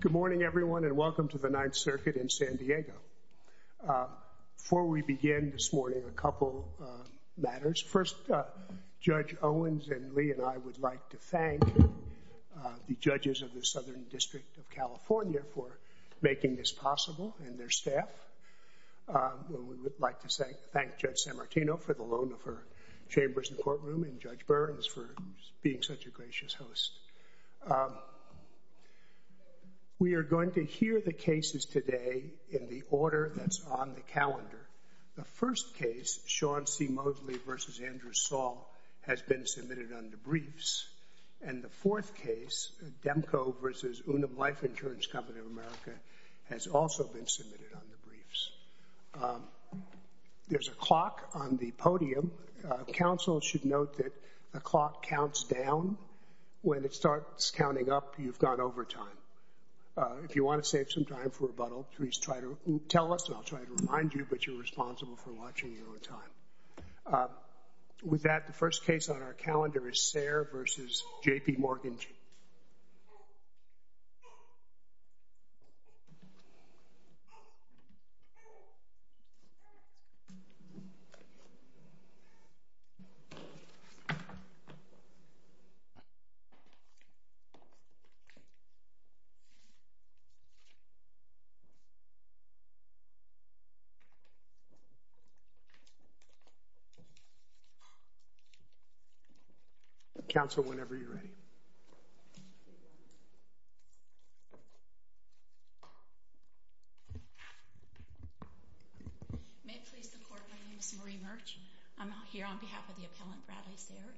Good morning, everyone, and welcome to the Ninth Circuit in San Diego. Before we begin this morning, a couple of matters. First, Judge Owens and Lee and I would like to thank the judges of the Southern District of California for making this possible and their staff, and we would like to thank Judge Amartino for the loan of her chambers and courtroom, and Judge Burns for being such a gracious host. We are going to hear the cases today in the order that's on the calendar. The first case, Sean C. Moseley v. Andrew Saul, has been submitted under briefs, and the fourth case, Demko v. Unum Life Insurance Company of America, has also been submitted under briefs. There's a clock on the podium. Counsel should note that the clock counts down. When it starts counting up, you've gone over time. If you want to save some time for rebuttal, please try to tell us, and I'll try to remind you, but you're responsible for watching your own time. With that, the first case on our calendar is Sayre v. J.P. Morgan. Counsel, whenever you're ready. May it please the Court, my name is Marie Murch. I'm here on behalf of the appellant, Bradley Sayre.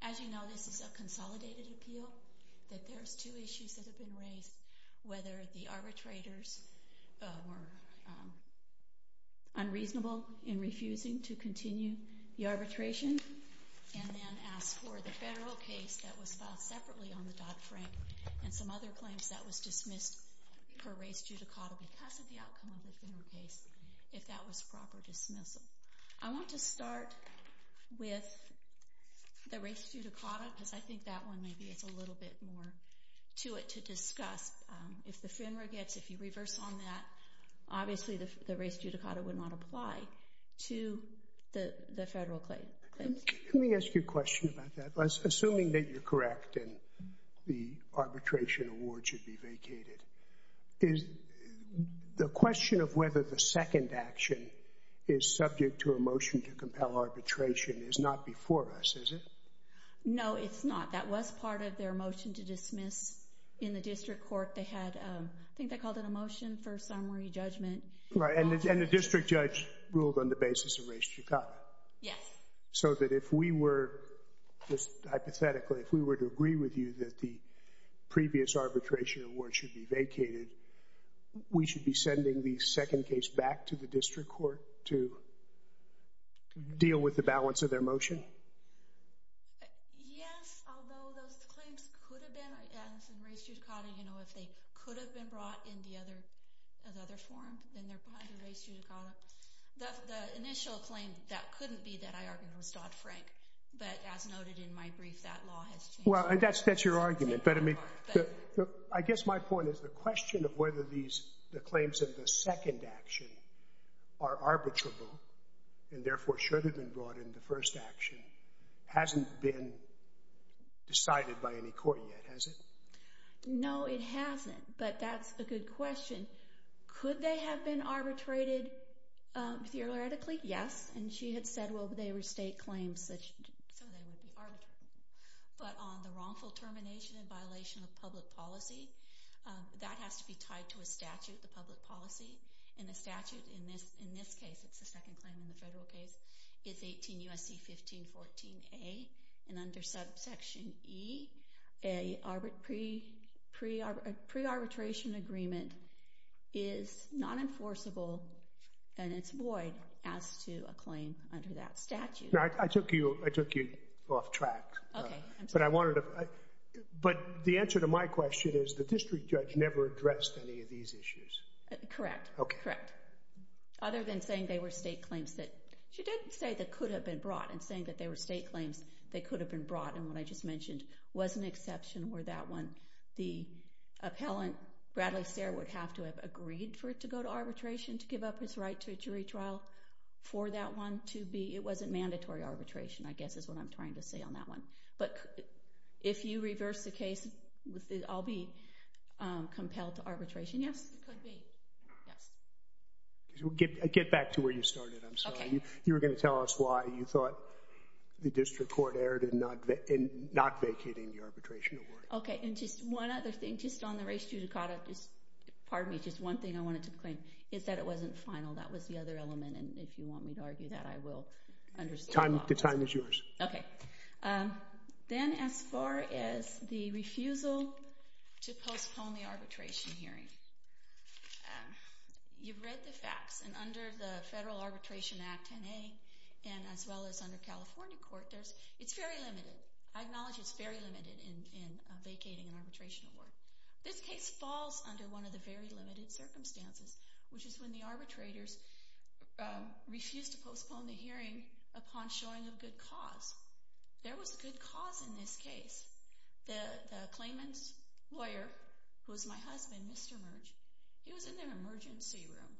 As you know, this is a consolidated appeal, that there's two issues that have been raised, whether the arbitrators were unreasonable in refusing to continue the arbitration, and then ask for the federal case that was filed separately on the Dodd-Frank, and some other claims that was dismissed per res judicata because of the outcome of the federal case, if that was proper dismissal. I want to start with the res judicata, because I think that one maybe has a little bit more to it to discuss. If the FINRA gets, if you reverse on that, obviously the res judicata would not apply to the federal claims. Let me ask you a question about that. Assuming that you're correct and the arbitration award should be vacated, the question of whether the second action is subject to a motion to compel arbitration is not before us, is it? No, it's not. That was part of their motion to dismiss in the district court. They had, I think they called it a motion for summary judgment. Right, and the district judge ruled on the basis of res judicata. Yes. So that if we were, hypothetically, if we were to agree with you that the previous arbitration award should be vacated, we should be sending the second case back to the district court to deal with the balance of their motion? Yes, although those claims could have been, as in res judicata, you know, if they could have been brought in the other form, then they're behind the res judicata. The initial claim that couldn't be that, I argue, was Dodd-Frank, but as noted in my brief, that law has changed. Well, and that's your argument, but I mean, I guess my point is the question of whether these, the claims of the second action are arbitrable and therefore should have been brought in the first action hasn't been decided by any court yet, has it? No, it hasn't, but that's a good question. Could they have been arbitrated theoretically? Yes, and she had said, well, they were state claims, so they would be arbitrated, but on the wrongful termination and violation of public policy, that has to be tied to a statute, the public policy, and the statute in this case, it's the second claim in the federal case, it's 18 U.S.C. 1514A, and under subsection E, a pre-arbitration agreement is not enforceable and it's void as to a claim under that statute. Now, I took you off track, but I wanted to, but the answer to my question is the district judge never addressed any of these issues. Correct, correct. Other than saying they were state claims that, she did say that could have been brought, and saying that they were state claims that could have been brought, and what I just mentioned was an exception where that one, the appellant, Bradley Sear, would have to have agreed for it to go to arbitration to give up his right to a jury trial for that one to be, it wasn't mandatory arbitration, I guess is what I'm trying to say on that one. But if you reverse the case, I'll be compelled to arbitration, yes? It could be, yes. Get back to where you started, I'm sorry. Okay. You were going to tell us why you thought the district court erred in not vacating the arbitration award. Okay, and just one other thing, just on the race to Dakota, just, pardon me, just one thing I wanted to claim, is that it wasn't final, that was the other element, and if you want me to argue that, I will. The time is yours. Okay. Then as far as the refusal to postpone the arbitration hearing, you've read the facts, and under the Federal Arbitration Act 10A, and as well as under California court, there's, it's very limited, I acknowledge it's very limited in vacating an arbitration award. This case falls under one of the very limited circumstances, which is when the arbitrators refuse to postpone the hearing upon showing a good cause. There was a good cause in this case. The claimant's lawyer, who is my husband, Mr. Merge, he was in their emergency room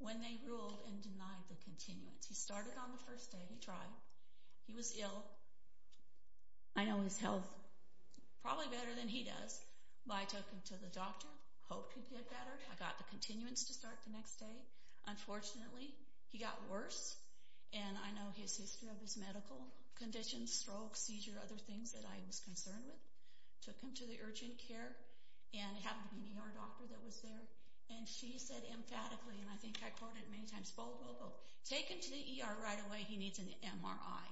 when they ruled and denied the continuance. He started on the first day, he tried, he was ill. I know his health. Probably better than he does, but I took him to the doctor, hoped he'd get better, I got the continuance to start the next day. Unfortunately, he got worse, and I know his history of his medical conditions, stroke, seizure, other things that I was concerned with. Took him to the urgent care, and it happened to be an ER doctor that was there, and she said emphatically, and I think I quote it many times, bold, willful, take him to the ER right away, he needs an MRI.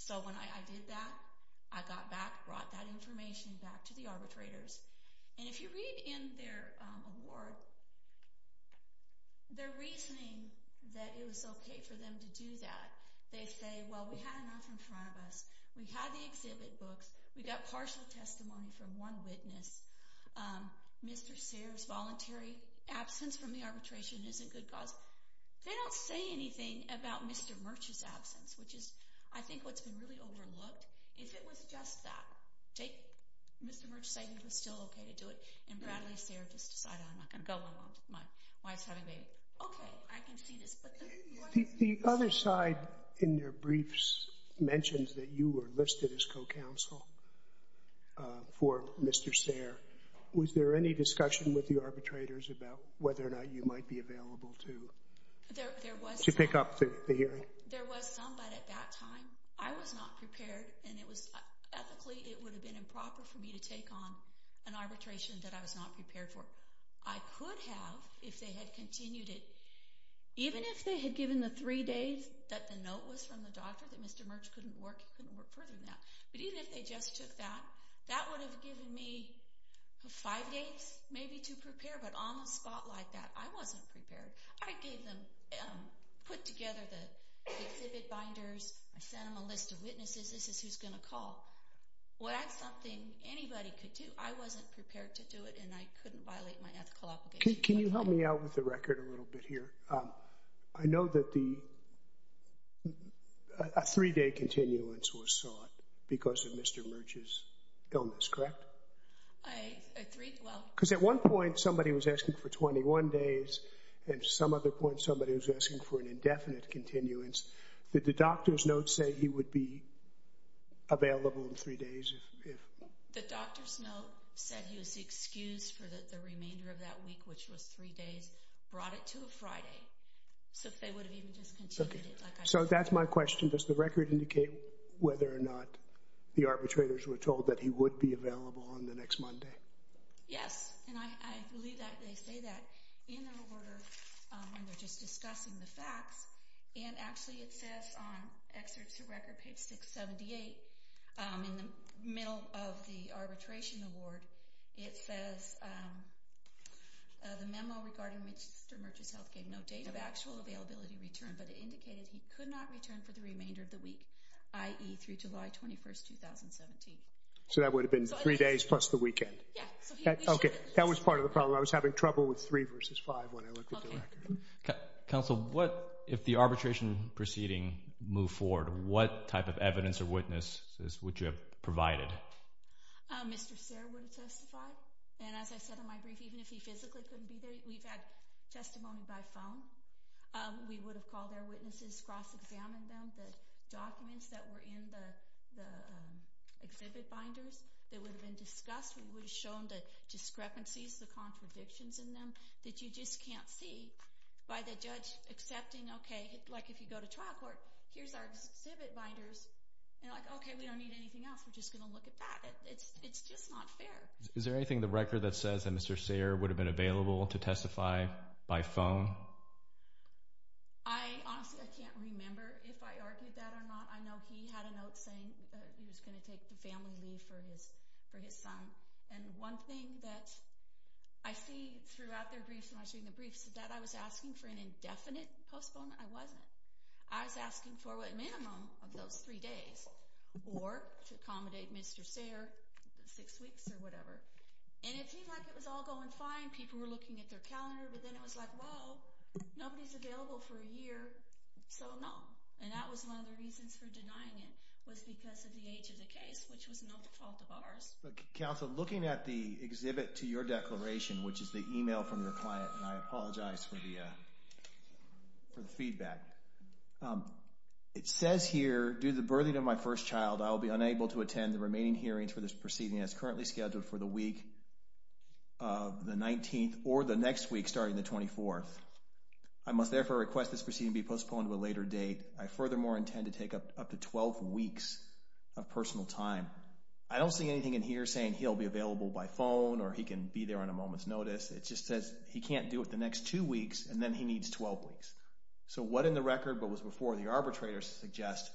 So when I did that, I got back, brought that information back to the arbitrators, and if you read in their award, their reasoning that it was okay for them to do that, they say, well, we had enough in front of us, we had the exhibit books, we got partial testimony from one witness, Mr. Sears' voluntary absence from the arbitration is a good cause. They don't say anything about Mr. Merge's absence, which is, I think, what's been really overlooked. If it was just that, take Mr. Merge's saying it was still okay to do it, and Bradley Sears just decided, I'm not going to go along with my wife's having a baby. Okay, I can see this, but the point is... The other side in their briefs mentions that you were listed as co-counsel for Mr. Sears. Was there any discussion with the arbitrators about whether or not you might be available to pick up the hearing? There was some, but at that time, I was not prepared. And ethically, it would have been improper for me to take on an arbitration that I was not prepared for. I could have, if they had continued it, even if they had given the three days that the note was from the doctor that Mr. Merge couldn't work, he couldn't work further than that. But even if they just took that, that would have given me five days, maybe, to prepare. But on the spot like that, I wasn't prepared. I gave them, put together the exhibit binders, I sent them a list of witnesses. This is who's going to call. Well, that's something anybody could do. I wasn't prepared to do it, and I couldn't violate my ethical obligations. Can you help me out with the record a little bit here? I know that a three-day continuance was sought because of Mr. Merge's illness, correct? A three, well... Because at one point, somebody was asking for 21 days, and at some other point, somebody was asking for an indefinite continuance. Did the doctor's note say he would be available in three days if... The doctor's note said he was excused for the remainder of that week, which was three days, brought it to a Friday. So if they would have even just continued it, like I said... So that's my question. Does the record indicate whether or not the arbitrators were told that he would be available on the next Monday? Yes. And I believe that they say that in their order when they're just discussing the facts. And actually, it says on excerpts of record, page 678, in the middle of the arbitration award, it says, the memo regarding Mr. Merge's health gave no date of actual availability return, but it indicated he could not return for the remainder of the week, i.e. through July 21st, 2017. So that would have been three days plus the weekend? Yes. Okay. That was part of the problem. I was having trouble with three versus five when I looked at the record. Okay. Counsel, if the arbitration proceeding moved forward, what type of evidence or witnesses would you have provided? Mr. Serra would have testified. And as I said in my brief, even if he physically couldn't be there, we've had testimony by phone. We would have called our witnesses, cross-examined them, the documents that were in the exhibit binders that would have been discussed. We would have shown the discrepancies, the contradictions in them that you just can't see by the judge accepting, okay, like if you go to trial court, here's our exhibit binders. And like, okay, we don't need anything else. We're just going to look at that. It's just not fair. Is there anything in the record that says that Mr. Serra would have been available to testify by phone? I honestly, I can't remember if I argued that or not. I know he had a note saying he was going to take the family leave for his son. And one thing that I see throughout their briefs, when I was reading the briefs, that I was asking for an indefinite postponement. I wasn't. I was asking for a minimum of those three days or to accommodate Mr. Serra, six weeks or whatever. And it seemed like it was all going fine. People were looking at their calendar, but then it was like, well, nobody's available for a year, so no. And that was one of the reasons for denying it was because of the age of the case, which was not the fault of ours. Counsel, looking at the exhibit to your declaration, which is the email from your client, and I apologize for the feedback, it says here, due to the birthing of my first child, I will be unable to attend the remaining hearings for this proceeding as currently scheduled for the week of the 19th or the next week starting the 24th. I must therefore request this proceeding be postponed to a later date. I furthermore intend to take up to 12 weeks of personal time. I don't see anything in here saying he'll be available by phone or he can be there on a moment's notice. It just says he can't do it the next two weeks, and then he needs 12 weeks. So what in the record but was before the arbitrator suggests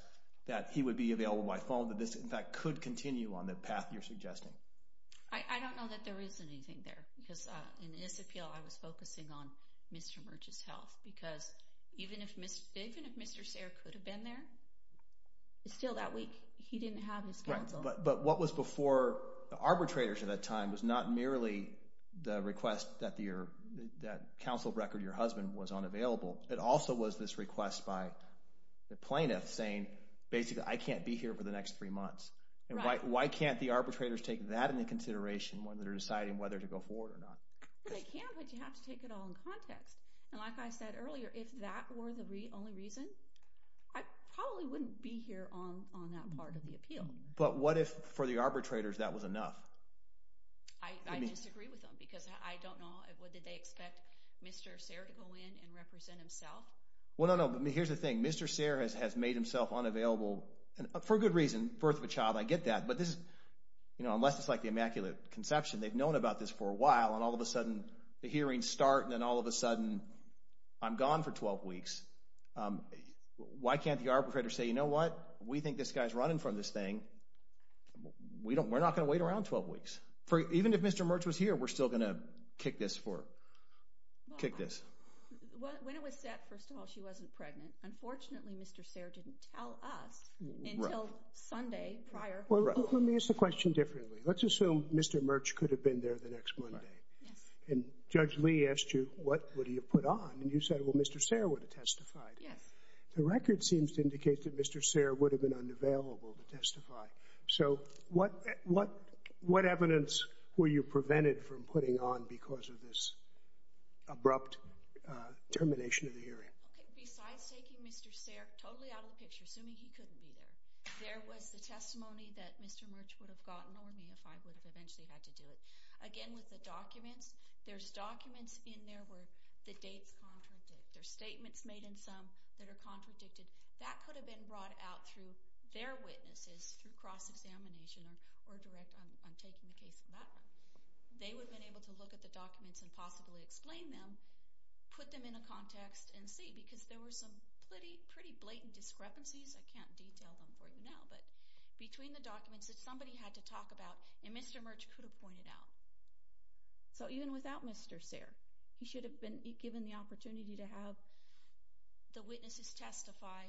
that he would be available by phone, that this, in fact, could continue on the path you're suggesting? I don't know that there is anything there. Because in this appeal, I was focusing on Mr. Murch's health. Because even if Mr. Serra could have been there, still that week, he didn't have his counsel. But what was before the arbitrators at that time was not merely the request that counsel record your husband was unavailable. It also was this request by the plaintiff saying, basically, I can't be here for the next three months. Why can't the arbitrators take that into consideration when they're deciding whether to go forward or not? They can, but you have to take it all in context. And like I said earlier, if that were the only reason, I probably wouldn't be here on that part of the appeal. But what if for the arbitrators that was enough? I disagree with them because I don't know. What, did they expect Mr. Serra to go in and represent himself? Well, no, no. Here's the thing. Mr. Serra has made himself unavailable for a good reason. Birth of a child. I get that. But this is, you know, unless it's like the Immaculate Conception, they've known about this for a while, and all of a sudden the hearings start, and then all of a sudden I'm gone for 12 weeks. Why can't the arbitrators say, you know what? We think this guy's running from this thing. We're not going to wait around 12 weeks. Even if Mr. Mertz was here, we're still going to kick this for, kick this. When it was said, first of all, she wasn't pregnant, unfortunately, Mr. Serra didn't tell us until Sunday prior. Well, let me ask the question differently. Let's assume Mr. Mertz could have been there the next Monday. And Judge Lee asked you, what would he have put on? And you said, well, Mr. Serra would have testified. Yes. The record seems to indicate that Mr. Serra would have been unavailable to testify. So, what evidence were you prevented from putting on because of this abrupt termination of the hearing? Okay. Besides taking Mr. Serra totally out of the picture, assuming he couldn't be there, there was the testimony that Mr. Mertz would have gotten on me if I would have eventually had to do it. Again, with the documents, there's documents in there where the dates contradict. There's statements made in some that are contradicted. That could have been brought out through their witnesses, through cross-examination or direct on taking the case. They would have been able to look at the documents and possibly explain them, put them in a context, and see. Because there were some pretty blatant discrepancies. I can't detail them for you now. But between the documents that somebody had to talk about, and Mr. Mertz could have pointed out. So, even without Mr. Serra, he should have been given the opportunity to have the witnesses testify.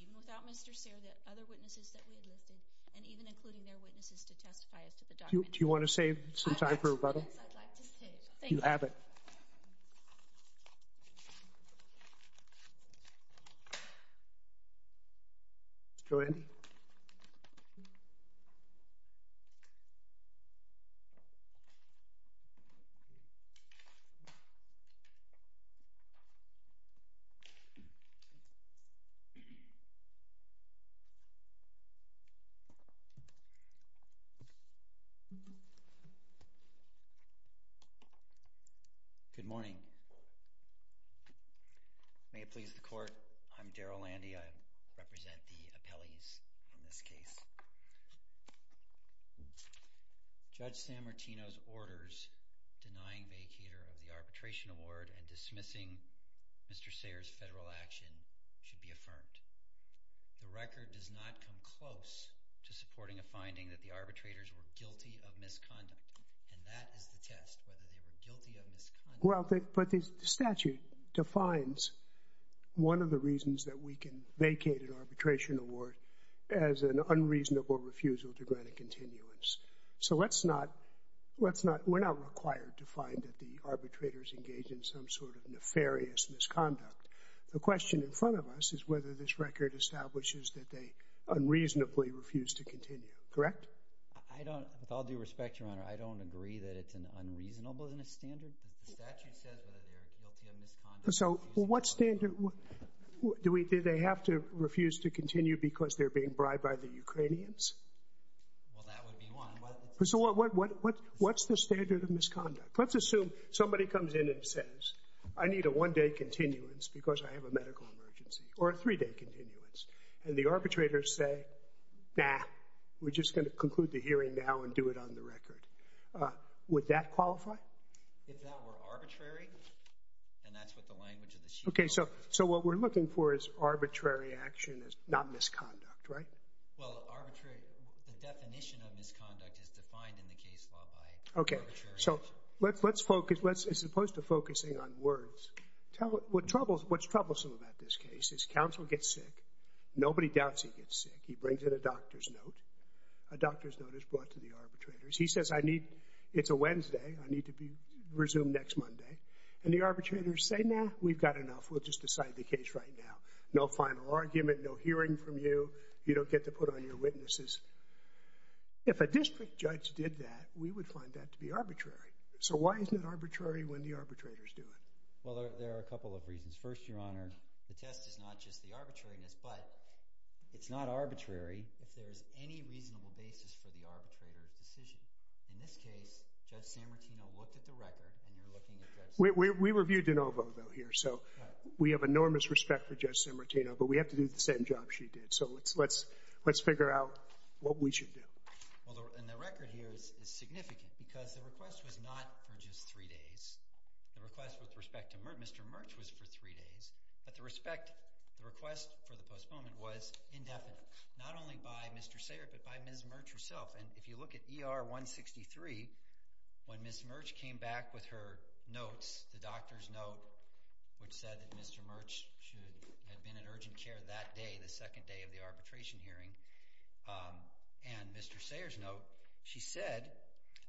Even without Mr. Serra, the other witnesses that we had listed, and even including their witnesses to testify as to the documents. Do you want to save some time for rebuttal? Yes, I'd like to save. Thank you. Mr. Abbott. Go ahead. Good morning. May it please the court, I'm Daryl Landy. I represent the appellees in this case. Judge San Martino's orders denying vacater of the arbitration award and dismissing Mr. Serra's federal action should be affirmed. The record does not come close to supporting a finding that the arbitrators were guilty of misconduct. And that is the test, whether they were guilty of misconduct. Well, but the statute defines one of the reasons that we can vacate an arbitration award as an unreasonable refusal to grant a continuance. So, let's not, we're not required to find that the arbitrators engaged in some sort of nefarious misconduct. The question in front of us is whether this record establishes that they unreasonably refused to continue. Correct? I don't, with all due respect, Your Honor, I don't agree that it's an unreasonable standard. The statute says whether they're guilty of misconduct. So, what standard, do they have to refuse to continue because they're being bribed by the Ukrainians? Well, that would be one. So, what's the standard of misconduct? Let's assume somebody comes in and says, I need a one-day continuance because I have a medical emergency, or a three-day continuance. And the arbitrators say, nah, we're just going to conclude the hearing now and do it on the record. Would that qualify? If that were arbitrary, then that's what the language of the sheet is. Okay, so what we're looking for is arbitrary action, not misconduct, right? Well, arbitrary, the definition of misconduct is defined in the case law by arbitrary action. Okay, so let's focus, as opposed to focusing on words, what's troublesome about this case is counsel gets sick. Nobody doubts he gets sick. He brings in a doctor's note. A doctor's note is brought to the arbitrators. He says, it's a Wednesday. I need to resume next Monday. And the arbitrators say, nah, we've got enough. We'll just decide the case right now. No final argument, no hearing from you. You don't get to put on your witnesses. If a district judge did that, we would find that to be arbitrary. So, why isn't it arbitrary when the arbitrators do it? Well, there are a couple of reasons. First, Your Honor, the test is not just the arbitrariness, but it's not arbitrary if there is any reasonable basis for the arbitrator's decision. In this case, Judge Sammartino looked at the record, and you're looking at Judge Sammartino. We reviewed de novo, though, here. So, we have enormous respect for Judge Sammartino, but we have to do the same job she did. So, let's figure out what we should do. Well, and the record here is significant because the request was not for just three days. The request with respect to Mr. Murch was for three days, but the request for the postponement was indefinite, not only by Mr. Sayert, but by Ms. Murch herself. And if you look at ER 163, when Ms. Murch came back with her notes, the doctor's note, which said that Mr. Murch should have been in urgent care that day, the second day of the arbitration hearing, and Mr. Sayert's note, she said,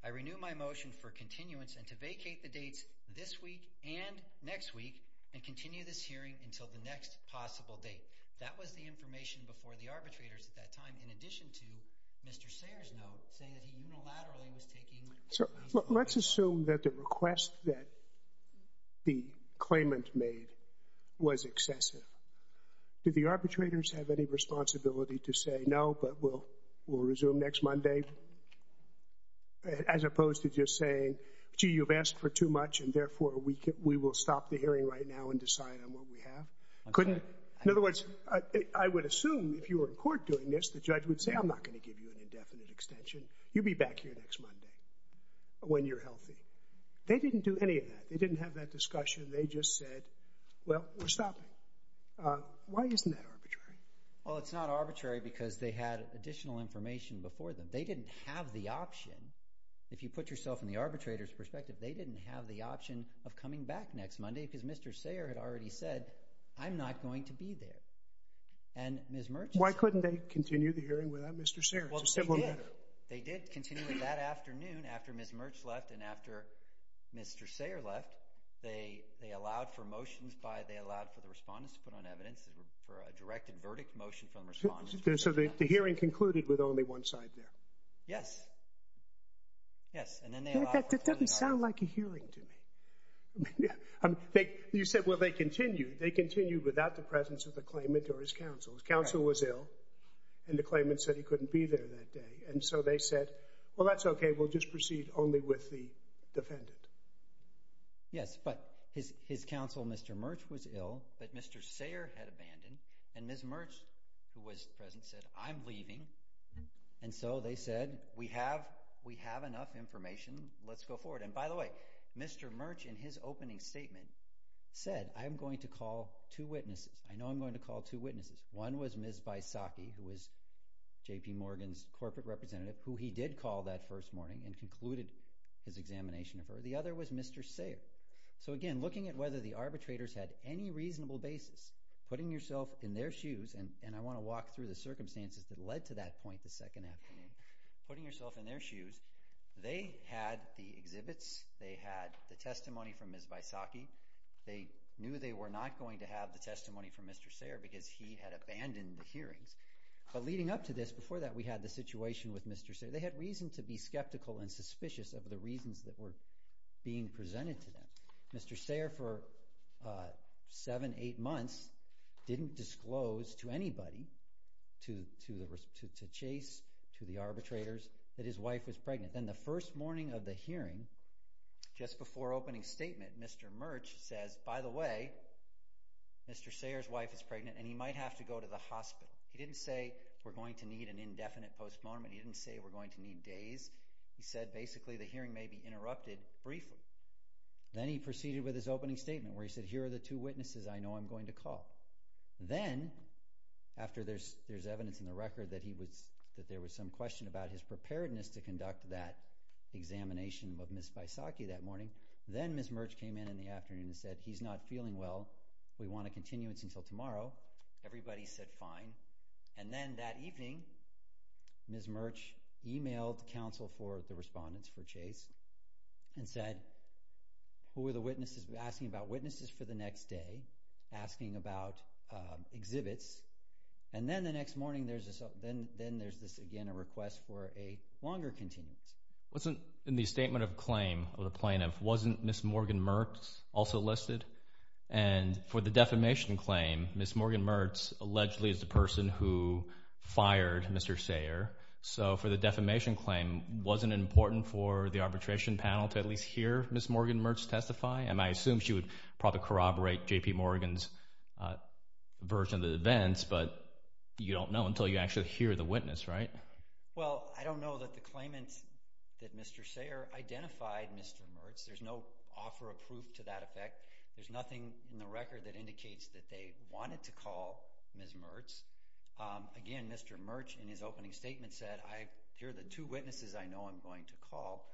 I renew my motion for continuance and to vacate the dates this week and next week and continue this hearing until the next possible date. That was the information before the arbitrators at that time, in addition to Mr. Sayert's note saying that he unilaterally was taking... So, let's assume that the request that the claimant made was excessive. Do the arbitrators have any responsibility to say, no, but we'll resume next Monday? As opposed to just saying, gee, you've asked for too much and therefore we will stop the hearing right now and decide on what we have? In other words, I would assume if you were in court doing this, the judge would say, I'm not going to give you an indefinite extension. You'll be back here next Monday when you're healthy. They didn't do any of that. They didn't have that discussion. They just said, well, we're stopping. Why isn't that arbitrary? Well, it's not arbitrary because they had additional information before them. They didn't have the option. If you put yourself in the arbitrator's perspective, they didn't have the option of coming back next Monday because Mr. Sayert had already said, I'm not going to be there. And Ms. Mertz... Why couldn't they continue the hearing without Mr. Sayert? Well, they did. They did continue it that afternoon after Ms. Mertz left and after Mr. Sayert left. They allowed for motions by... They allowed for the respondents to put on evidence for a directed verdict motion from the respondents. So the hearing concluded with only one side there? Yes. Yes, and then they allowed... That doesn't sound like a hearing to me. You said, well, they continued. They continued without the presence of the claimant or his counsel. His counsel was ill, and the claimant said he couldn't be there that day. And so they said, well, that's okay. We'll just proceed only with the defendant. Yes, but his counsel, Mr. Mertz, was ill, but Mr. Sayert had abandoned, and Ms. Mertz, who was present, said, I'm leaving. And so they said, we have enough information. Let's go forward. And by the way, Mr. Mertz, in his opening statement, said, I'm going to call two witnesses. I know I'm going to call two witnesses. One was Ms. Vaisakhi, who was J.P. Morgan's corporate representative, who he did call that first morning and concluded his examination of her. The other was Mr. Sayert. So, again, looking at whether the arbitrators had any reasonable basis, putting yourself in their shoes, and I want to walk through the circumstances that led to that point the second afternoon. Putting yourself in their shoes, they had the exhibits. They had the testimony from Ms. Vaisakhi. They knew they were not going to have the testimony from Mr. Sayert because he had abandoned the hearings. But leading up to this, before that, we had the situation with Mr. Sayert. They had reason to be skeptical and suspicious of the reasons that were being presented to them. Mr. Sayert, for seven, eight months, didn't disclose to anybody, to Chase, to the arbitrators, that his wife was pregnant. Then the first morning of the hearing, just before opening statement, Mr. Mertz says, by the way, Mr. Sayert's wife is pregnant, and he might have to go to the hospital. He didn't say we're going to need an indefinite postponement. He didn't say we're going to need days. He said, basically, the hearing may be interrupted briefly. Then he proceeded with his opening statement where he said, here are the two witnesses I know I'm going to call. Then, after there's evidence in the record that there was some question about his preparedness to conduct that examination of Ms. Vaisakhi that morning, then Ms. Mertz came in in the afternoon and said, he's not feeling well. We want a continuance until tomorrow. Everybody said fine. Then that evening, Ms. Mertz emailed counsel for the respondents for Chase and said, who are the witnesses? We're asking about witnesses for the next day, asking about exhibits. Then the next morning, then there's this, again, a request for a longer continuance. In the statement of claim of the plaintiff, wasn't Ms. Morgan Mertz also listed? For the defamation claim, Ms. Morgan Mertz allegedly is the person who fired Mr. Sayert. So, for the defamation claim, wasn't it important for the arbitration panel to at least hear Ms. Morgan Mertz testify? I assume she would probably corroborate J.P. Morgan's version of the events, but you don't know until you actually hear the witness, right? Well, I don't know that the claimant that Mr. Sayert identified Mr. Mertz. There's no offer of proof to that effect. There's nothing in the record that indicates that they wanted to call Ms. Mertz. Again, Mr. Mertz, in his opening statement, said, I hear the two witnesses I know I'm going to call.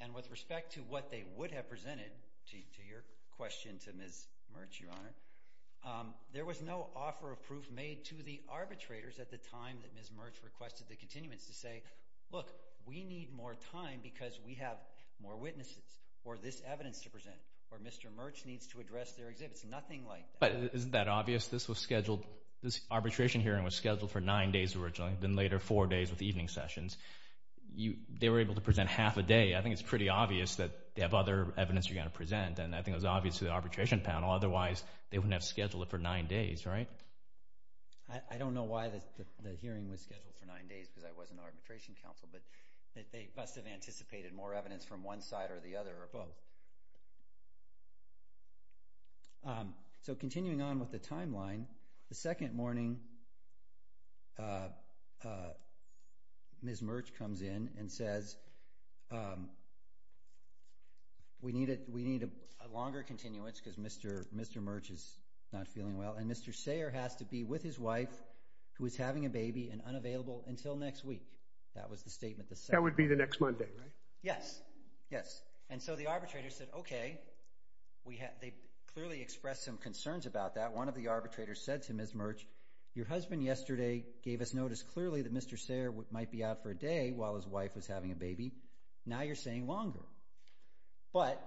And with respect to what they would have presented, to your question to Ms. Mertz, Your Honor, there was no offer of proof made to the arbitrators at the time that Ms. Mertz requested the continuance to say, look, we need more time because we have more witnesses or this evidence to present or Mr. Mertz needs to address their exhibits. Nothing like that. But isn't that obvious? This arbitration hearing was scheduled for nine days originally, then later four days with evening sessions. They were able to present half a day. I think it's pretty obvious that they have other evidence they're going to present, and I think it was obvious to the arbitration panel. Otherwise, they wouldn't have scheduled it for nine days, right? I don't know why the hearing was scheduled for nine days because I wasn't arbitration counsel, but they must have anticipated more evidence from one side or the other or both. So continuing on with the timeline, the second morning, Ms. Mertz comes in and says, we need a longer continuance because Mr. Mertz is not feeling well, and Mr. Sayre has to be with his wife who is having a baby and unavailable until next week. That was the statement. That would be the next Monday, right? Yes, yes. And so the arbitrator said, okay. They clearly expressed some concerns about that. One of the arbitrators said to Ms. Mertz, your husband yesterday gave us notice clearly that Mr. Sayre might be out for a day while his wife was having a baby. Now you're saying longer. But,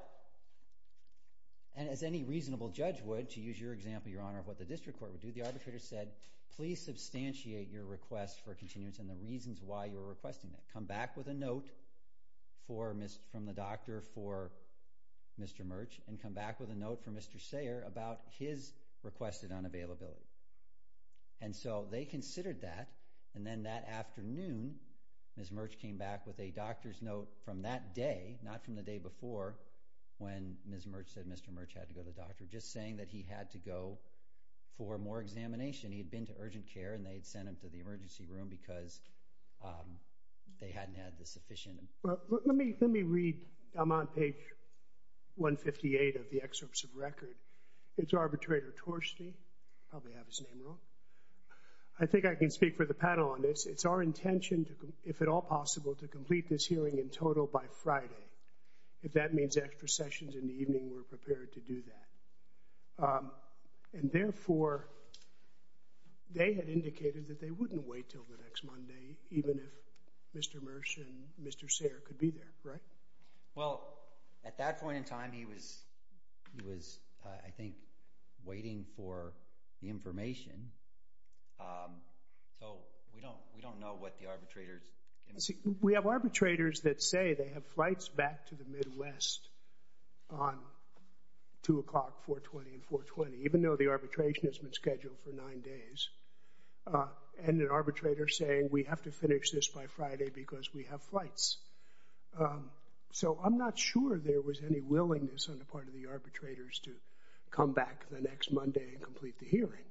and as any reasonable judge would, to use your example, Your Honor, of what the district court would do, the arbitrator said, please substantiate your request for continuance and the reasons why you're requesting that. Come back with a note from the doctor for Mr. Mertz and come back with a note from Mr. Sayre about his requested unavailability. And so they considered that, and then that afternoon, Ms. Mertz came back with a doctor's note from that day, not from the day before, when Ms. Mertz said Mr. Mertz had to go to the doctor, just saying that he had to go for more examination. He had been to urgent care and they had sent him to the emergency room because they hadn't had the sufficient. Well, let me read. I'm on page 158 of the excerpts of record. It's arbitrator Torstey. I probably have his name wrong. I think I can speak for the panel on this. It's our intention, if at all possible, to complete this hearing in total by Friday. If that means extra sessions in the evening, we're prepared to do that. And therefore, they had indicated that they wouldn't wait until the next Monday even if Mr. Mertz and Mr. Sayre could be there, right? Well, at that point in time, he was, I think, waiting for the information. So we don't know what the arbitrators. We have arbitrators that say they have flights back to the Midwest on 2 o'clock, 420, and 420, even though the arbitration has been scheduled for nine days, and an arbitrator saying we have to finish this by Friday because we have flights. So I'm not sure there was any willingness on the part of the arbitrators to come back the next Monday and complete the hearing.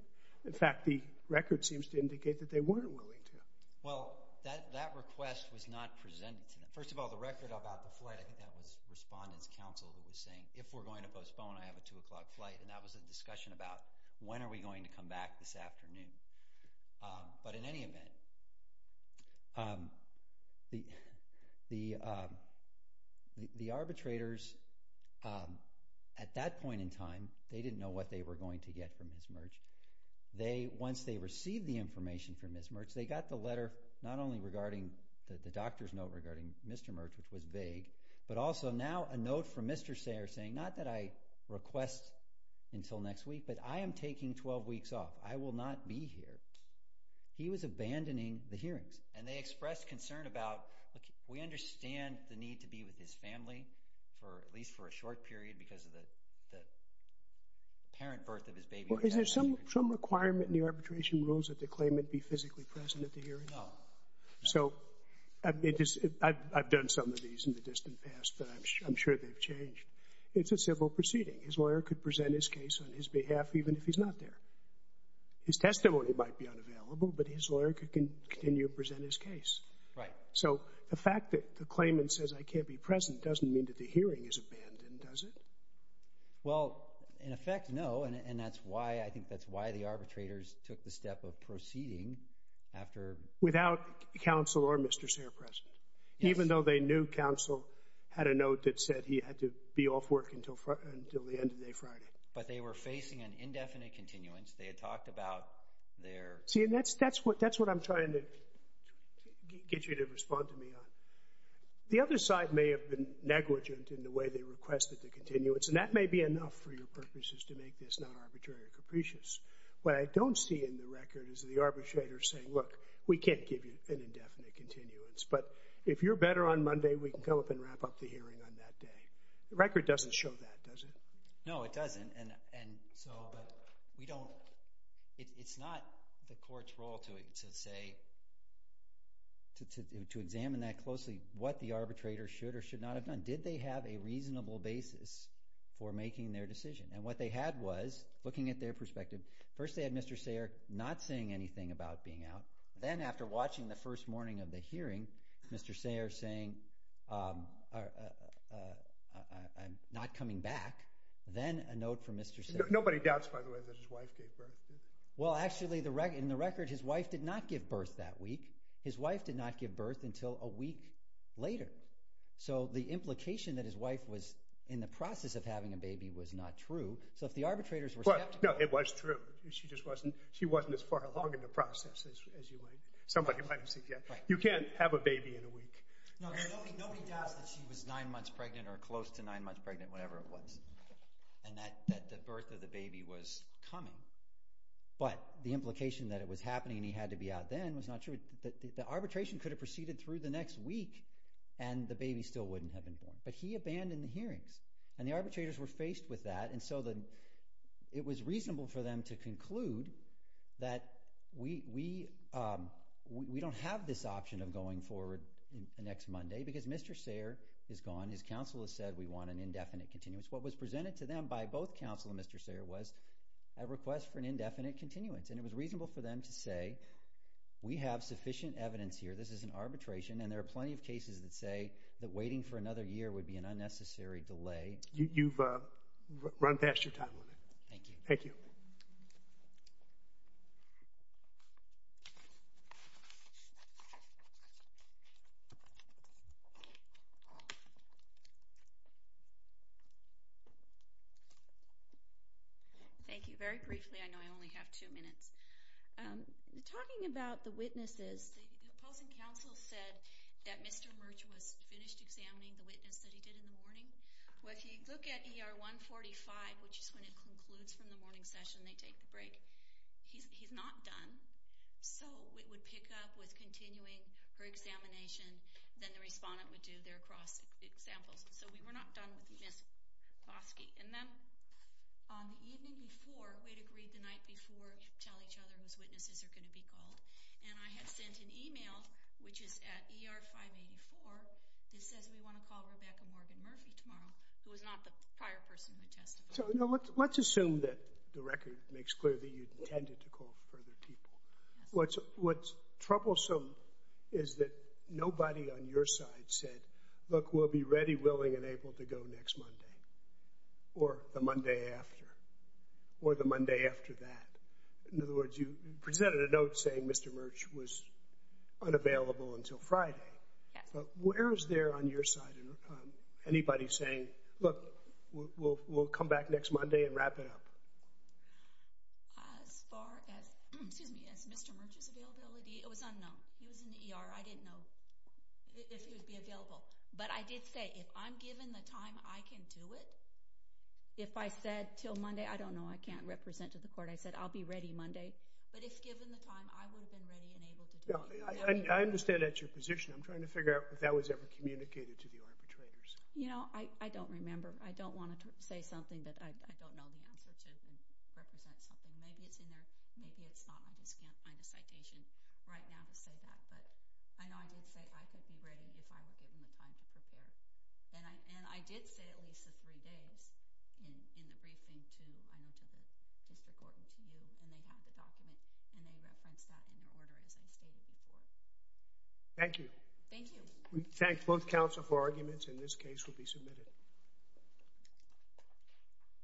In fact, the record seems to indicate that they weren't willing to. Well, that request was not presented to them. First of all, the record about the flight, I think that was Respondent's Counsel who was saying if we're going to postpone, I have a 2 o'clock flight, and that was a discussion about when are we going to come back this afternoon. But in any event, the arbitrators at that point in time, they didn't know what they were going to get from Ms. Mertz. Once they received the information from Ms. Mertz, they got the letter not only regarding the doctor's note regarding Mr. Mertz, which was vague, but also now a note from Mr. Sayre saying not that I request until next week, but I am taking 12 weeks off. I will not be here. He was abandoning the hearings. And they expressed concern about we understand the need to be with his family at least for a short period because of the parent birth of his baby. Is there some requirement in the arbitration rules that the claimant be physically present at the hearing? No. So I've done some of these in the distant past, but I'm sure they've changed. It's a civil proceeding. His lawyer could present his case on his behalf even if he's not there. His testimony might be unavailable, but his lawyer can continue to present his case. Right. So the fact that the claimant says I can't be present doesn't mean that the hearing is abandoned, does it? Well, in effect, no. And that's why I think that's why the arbitrators took the step of proceeding. Without counsel or Mr. Sayre present? Yes. Even though they knew counsel had a note that said he had to be off work until the end of the day Friday? But they were facing an indefinite continuance. They had talked about their— See, and that's what I'm trying to get you to respond to me on. The other side may have been negligent in the way they requested the continuance, and that may be enough for your purposes to make this not arbitrary or capricious. What I don't see in the record is the arbitrator saying, look, we can't give you an indefinite continuance, but if you're better on Monday, we can come up and wrap up the hearing on that day. The record doesn't show that, does it? No, it doesn't. And so we don't—it's not the court's role to say—to examine that closely, what the arbitrator should or should not have done. Did they have a reasonable basis for making their decision? And what they had was, looking at their perspective, first they had Mr. Sayre not saying anything about being out. Then after watching the first morning of the hearing, Mr. Sayre saying, I'm not coming back, then a note from Mr. Sayre. Nobody doubts, by the way, that his wife gave birth, does he? Well, actually, in the record, his wife did not give birth that week. His wife did not give birth until a week later. So the implication that his wife was in the process of having a baby was not true. So if the arbitrators were— No, it was true. She just wasn't—she wasn't as far along in the process as you might—somebody might have said, you can't have a baby in a week. Nobody doubts that she was nine months pregnant or close to nine months pregnant, whatever it was, and that the birth of the baby was coming. But the implication that it was happening and he had to be out then was not true. The arbitration could have proceeded through the next week, and the baby still wouldn't have been born. But he abandoned the hearings, and the arbitrators were faced with that, and so it was reasonable for them to conclude that we don't have this option of going forward the next Monday because Mr. Sayre is gone. His counsel has said we want an indefinite continuance. What was presented to them by both counsel and Mr. Sayre was a request for an indefinite continuance, and it was reasonable for them to say we have sufficient evidence here, this is an arbitration, and there are plenty of cases that say that waiting for another year would be an unnecessary delay. You've run past your time limit. Thank you. Thank you. Thank you. Thank you. Very briefly, I know I only have two minutes. Talking about the witnesses, the opposing counsel said that Mr. Murch was finished examining the witness that he did in the morning. Well, if you look at ER 145, which is when it concludes from the morning session, they take the break. He's not done. So it would pick up with continuing her examination, then the respondent would do their cross-examples. So we were not done with Ms. Bosky. And then on the evening before, we had agreed the night before to tell each other whose witnesses are going to be called, and I had sent an email, which is at ER 584, that says we want to call Rebecca Morgan Murphy tomorrow, who was not the prior person who testified. So let's assume that the record makes clear that you intended to call further people. What's troublesome is that nobody on your side said, look, we'll be ready, willing, and able to go next Monday or the Monday after or the Monday after that. In other words, you presented a note saying Mr. Murch was unavailable until Friday. Yes. But where is there on your side anybody saying, look, we'll come back next Monday and wrap it up? As far as Mr. Murch's availability, it was unknown. He was in the ER. I didn't know if he would be available. But I did say, if I'm given the time, I can do it. If I said till Monday, I don't know, I can't represent to the court. I said I'll be ready Monday. But if given the time, I would have been ready and able to do it. I understand that's your position. I'm trying to figure out if that was ever communicated to the arbitrators. You know, I don't remember. I don't want to say something that I don't know the answer to and represent something. Maybe it's in there. Maybe it's not. I just can't find a citation right now to say that. But I know I did say I could be ready if I were given the time to prepare. And I did say at least the three days in the briefing to, I know, to the district court and to you. And they have the document. And they referenced that in your order, as I stated before. Thank you. Thank you. And this case will be submitted.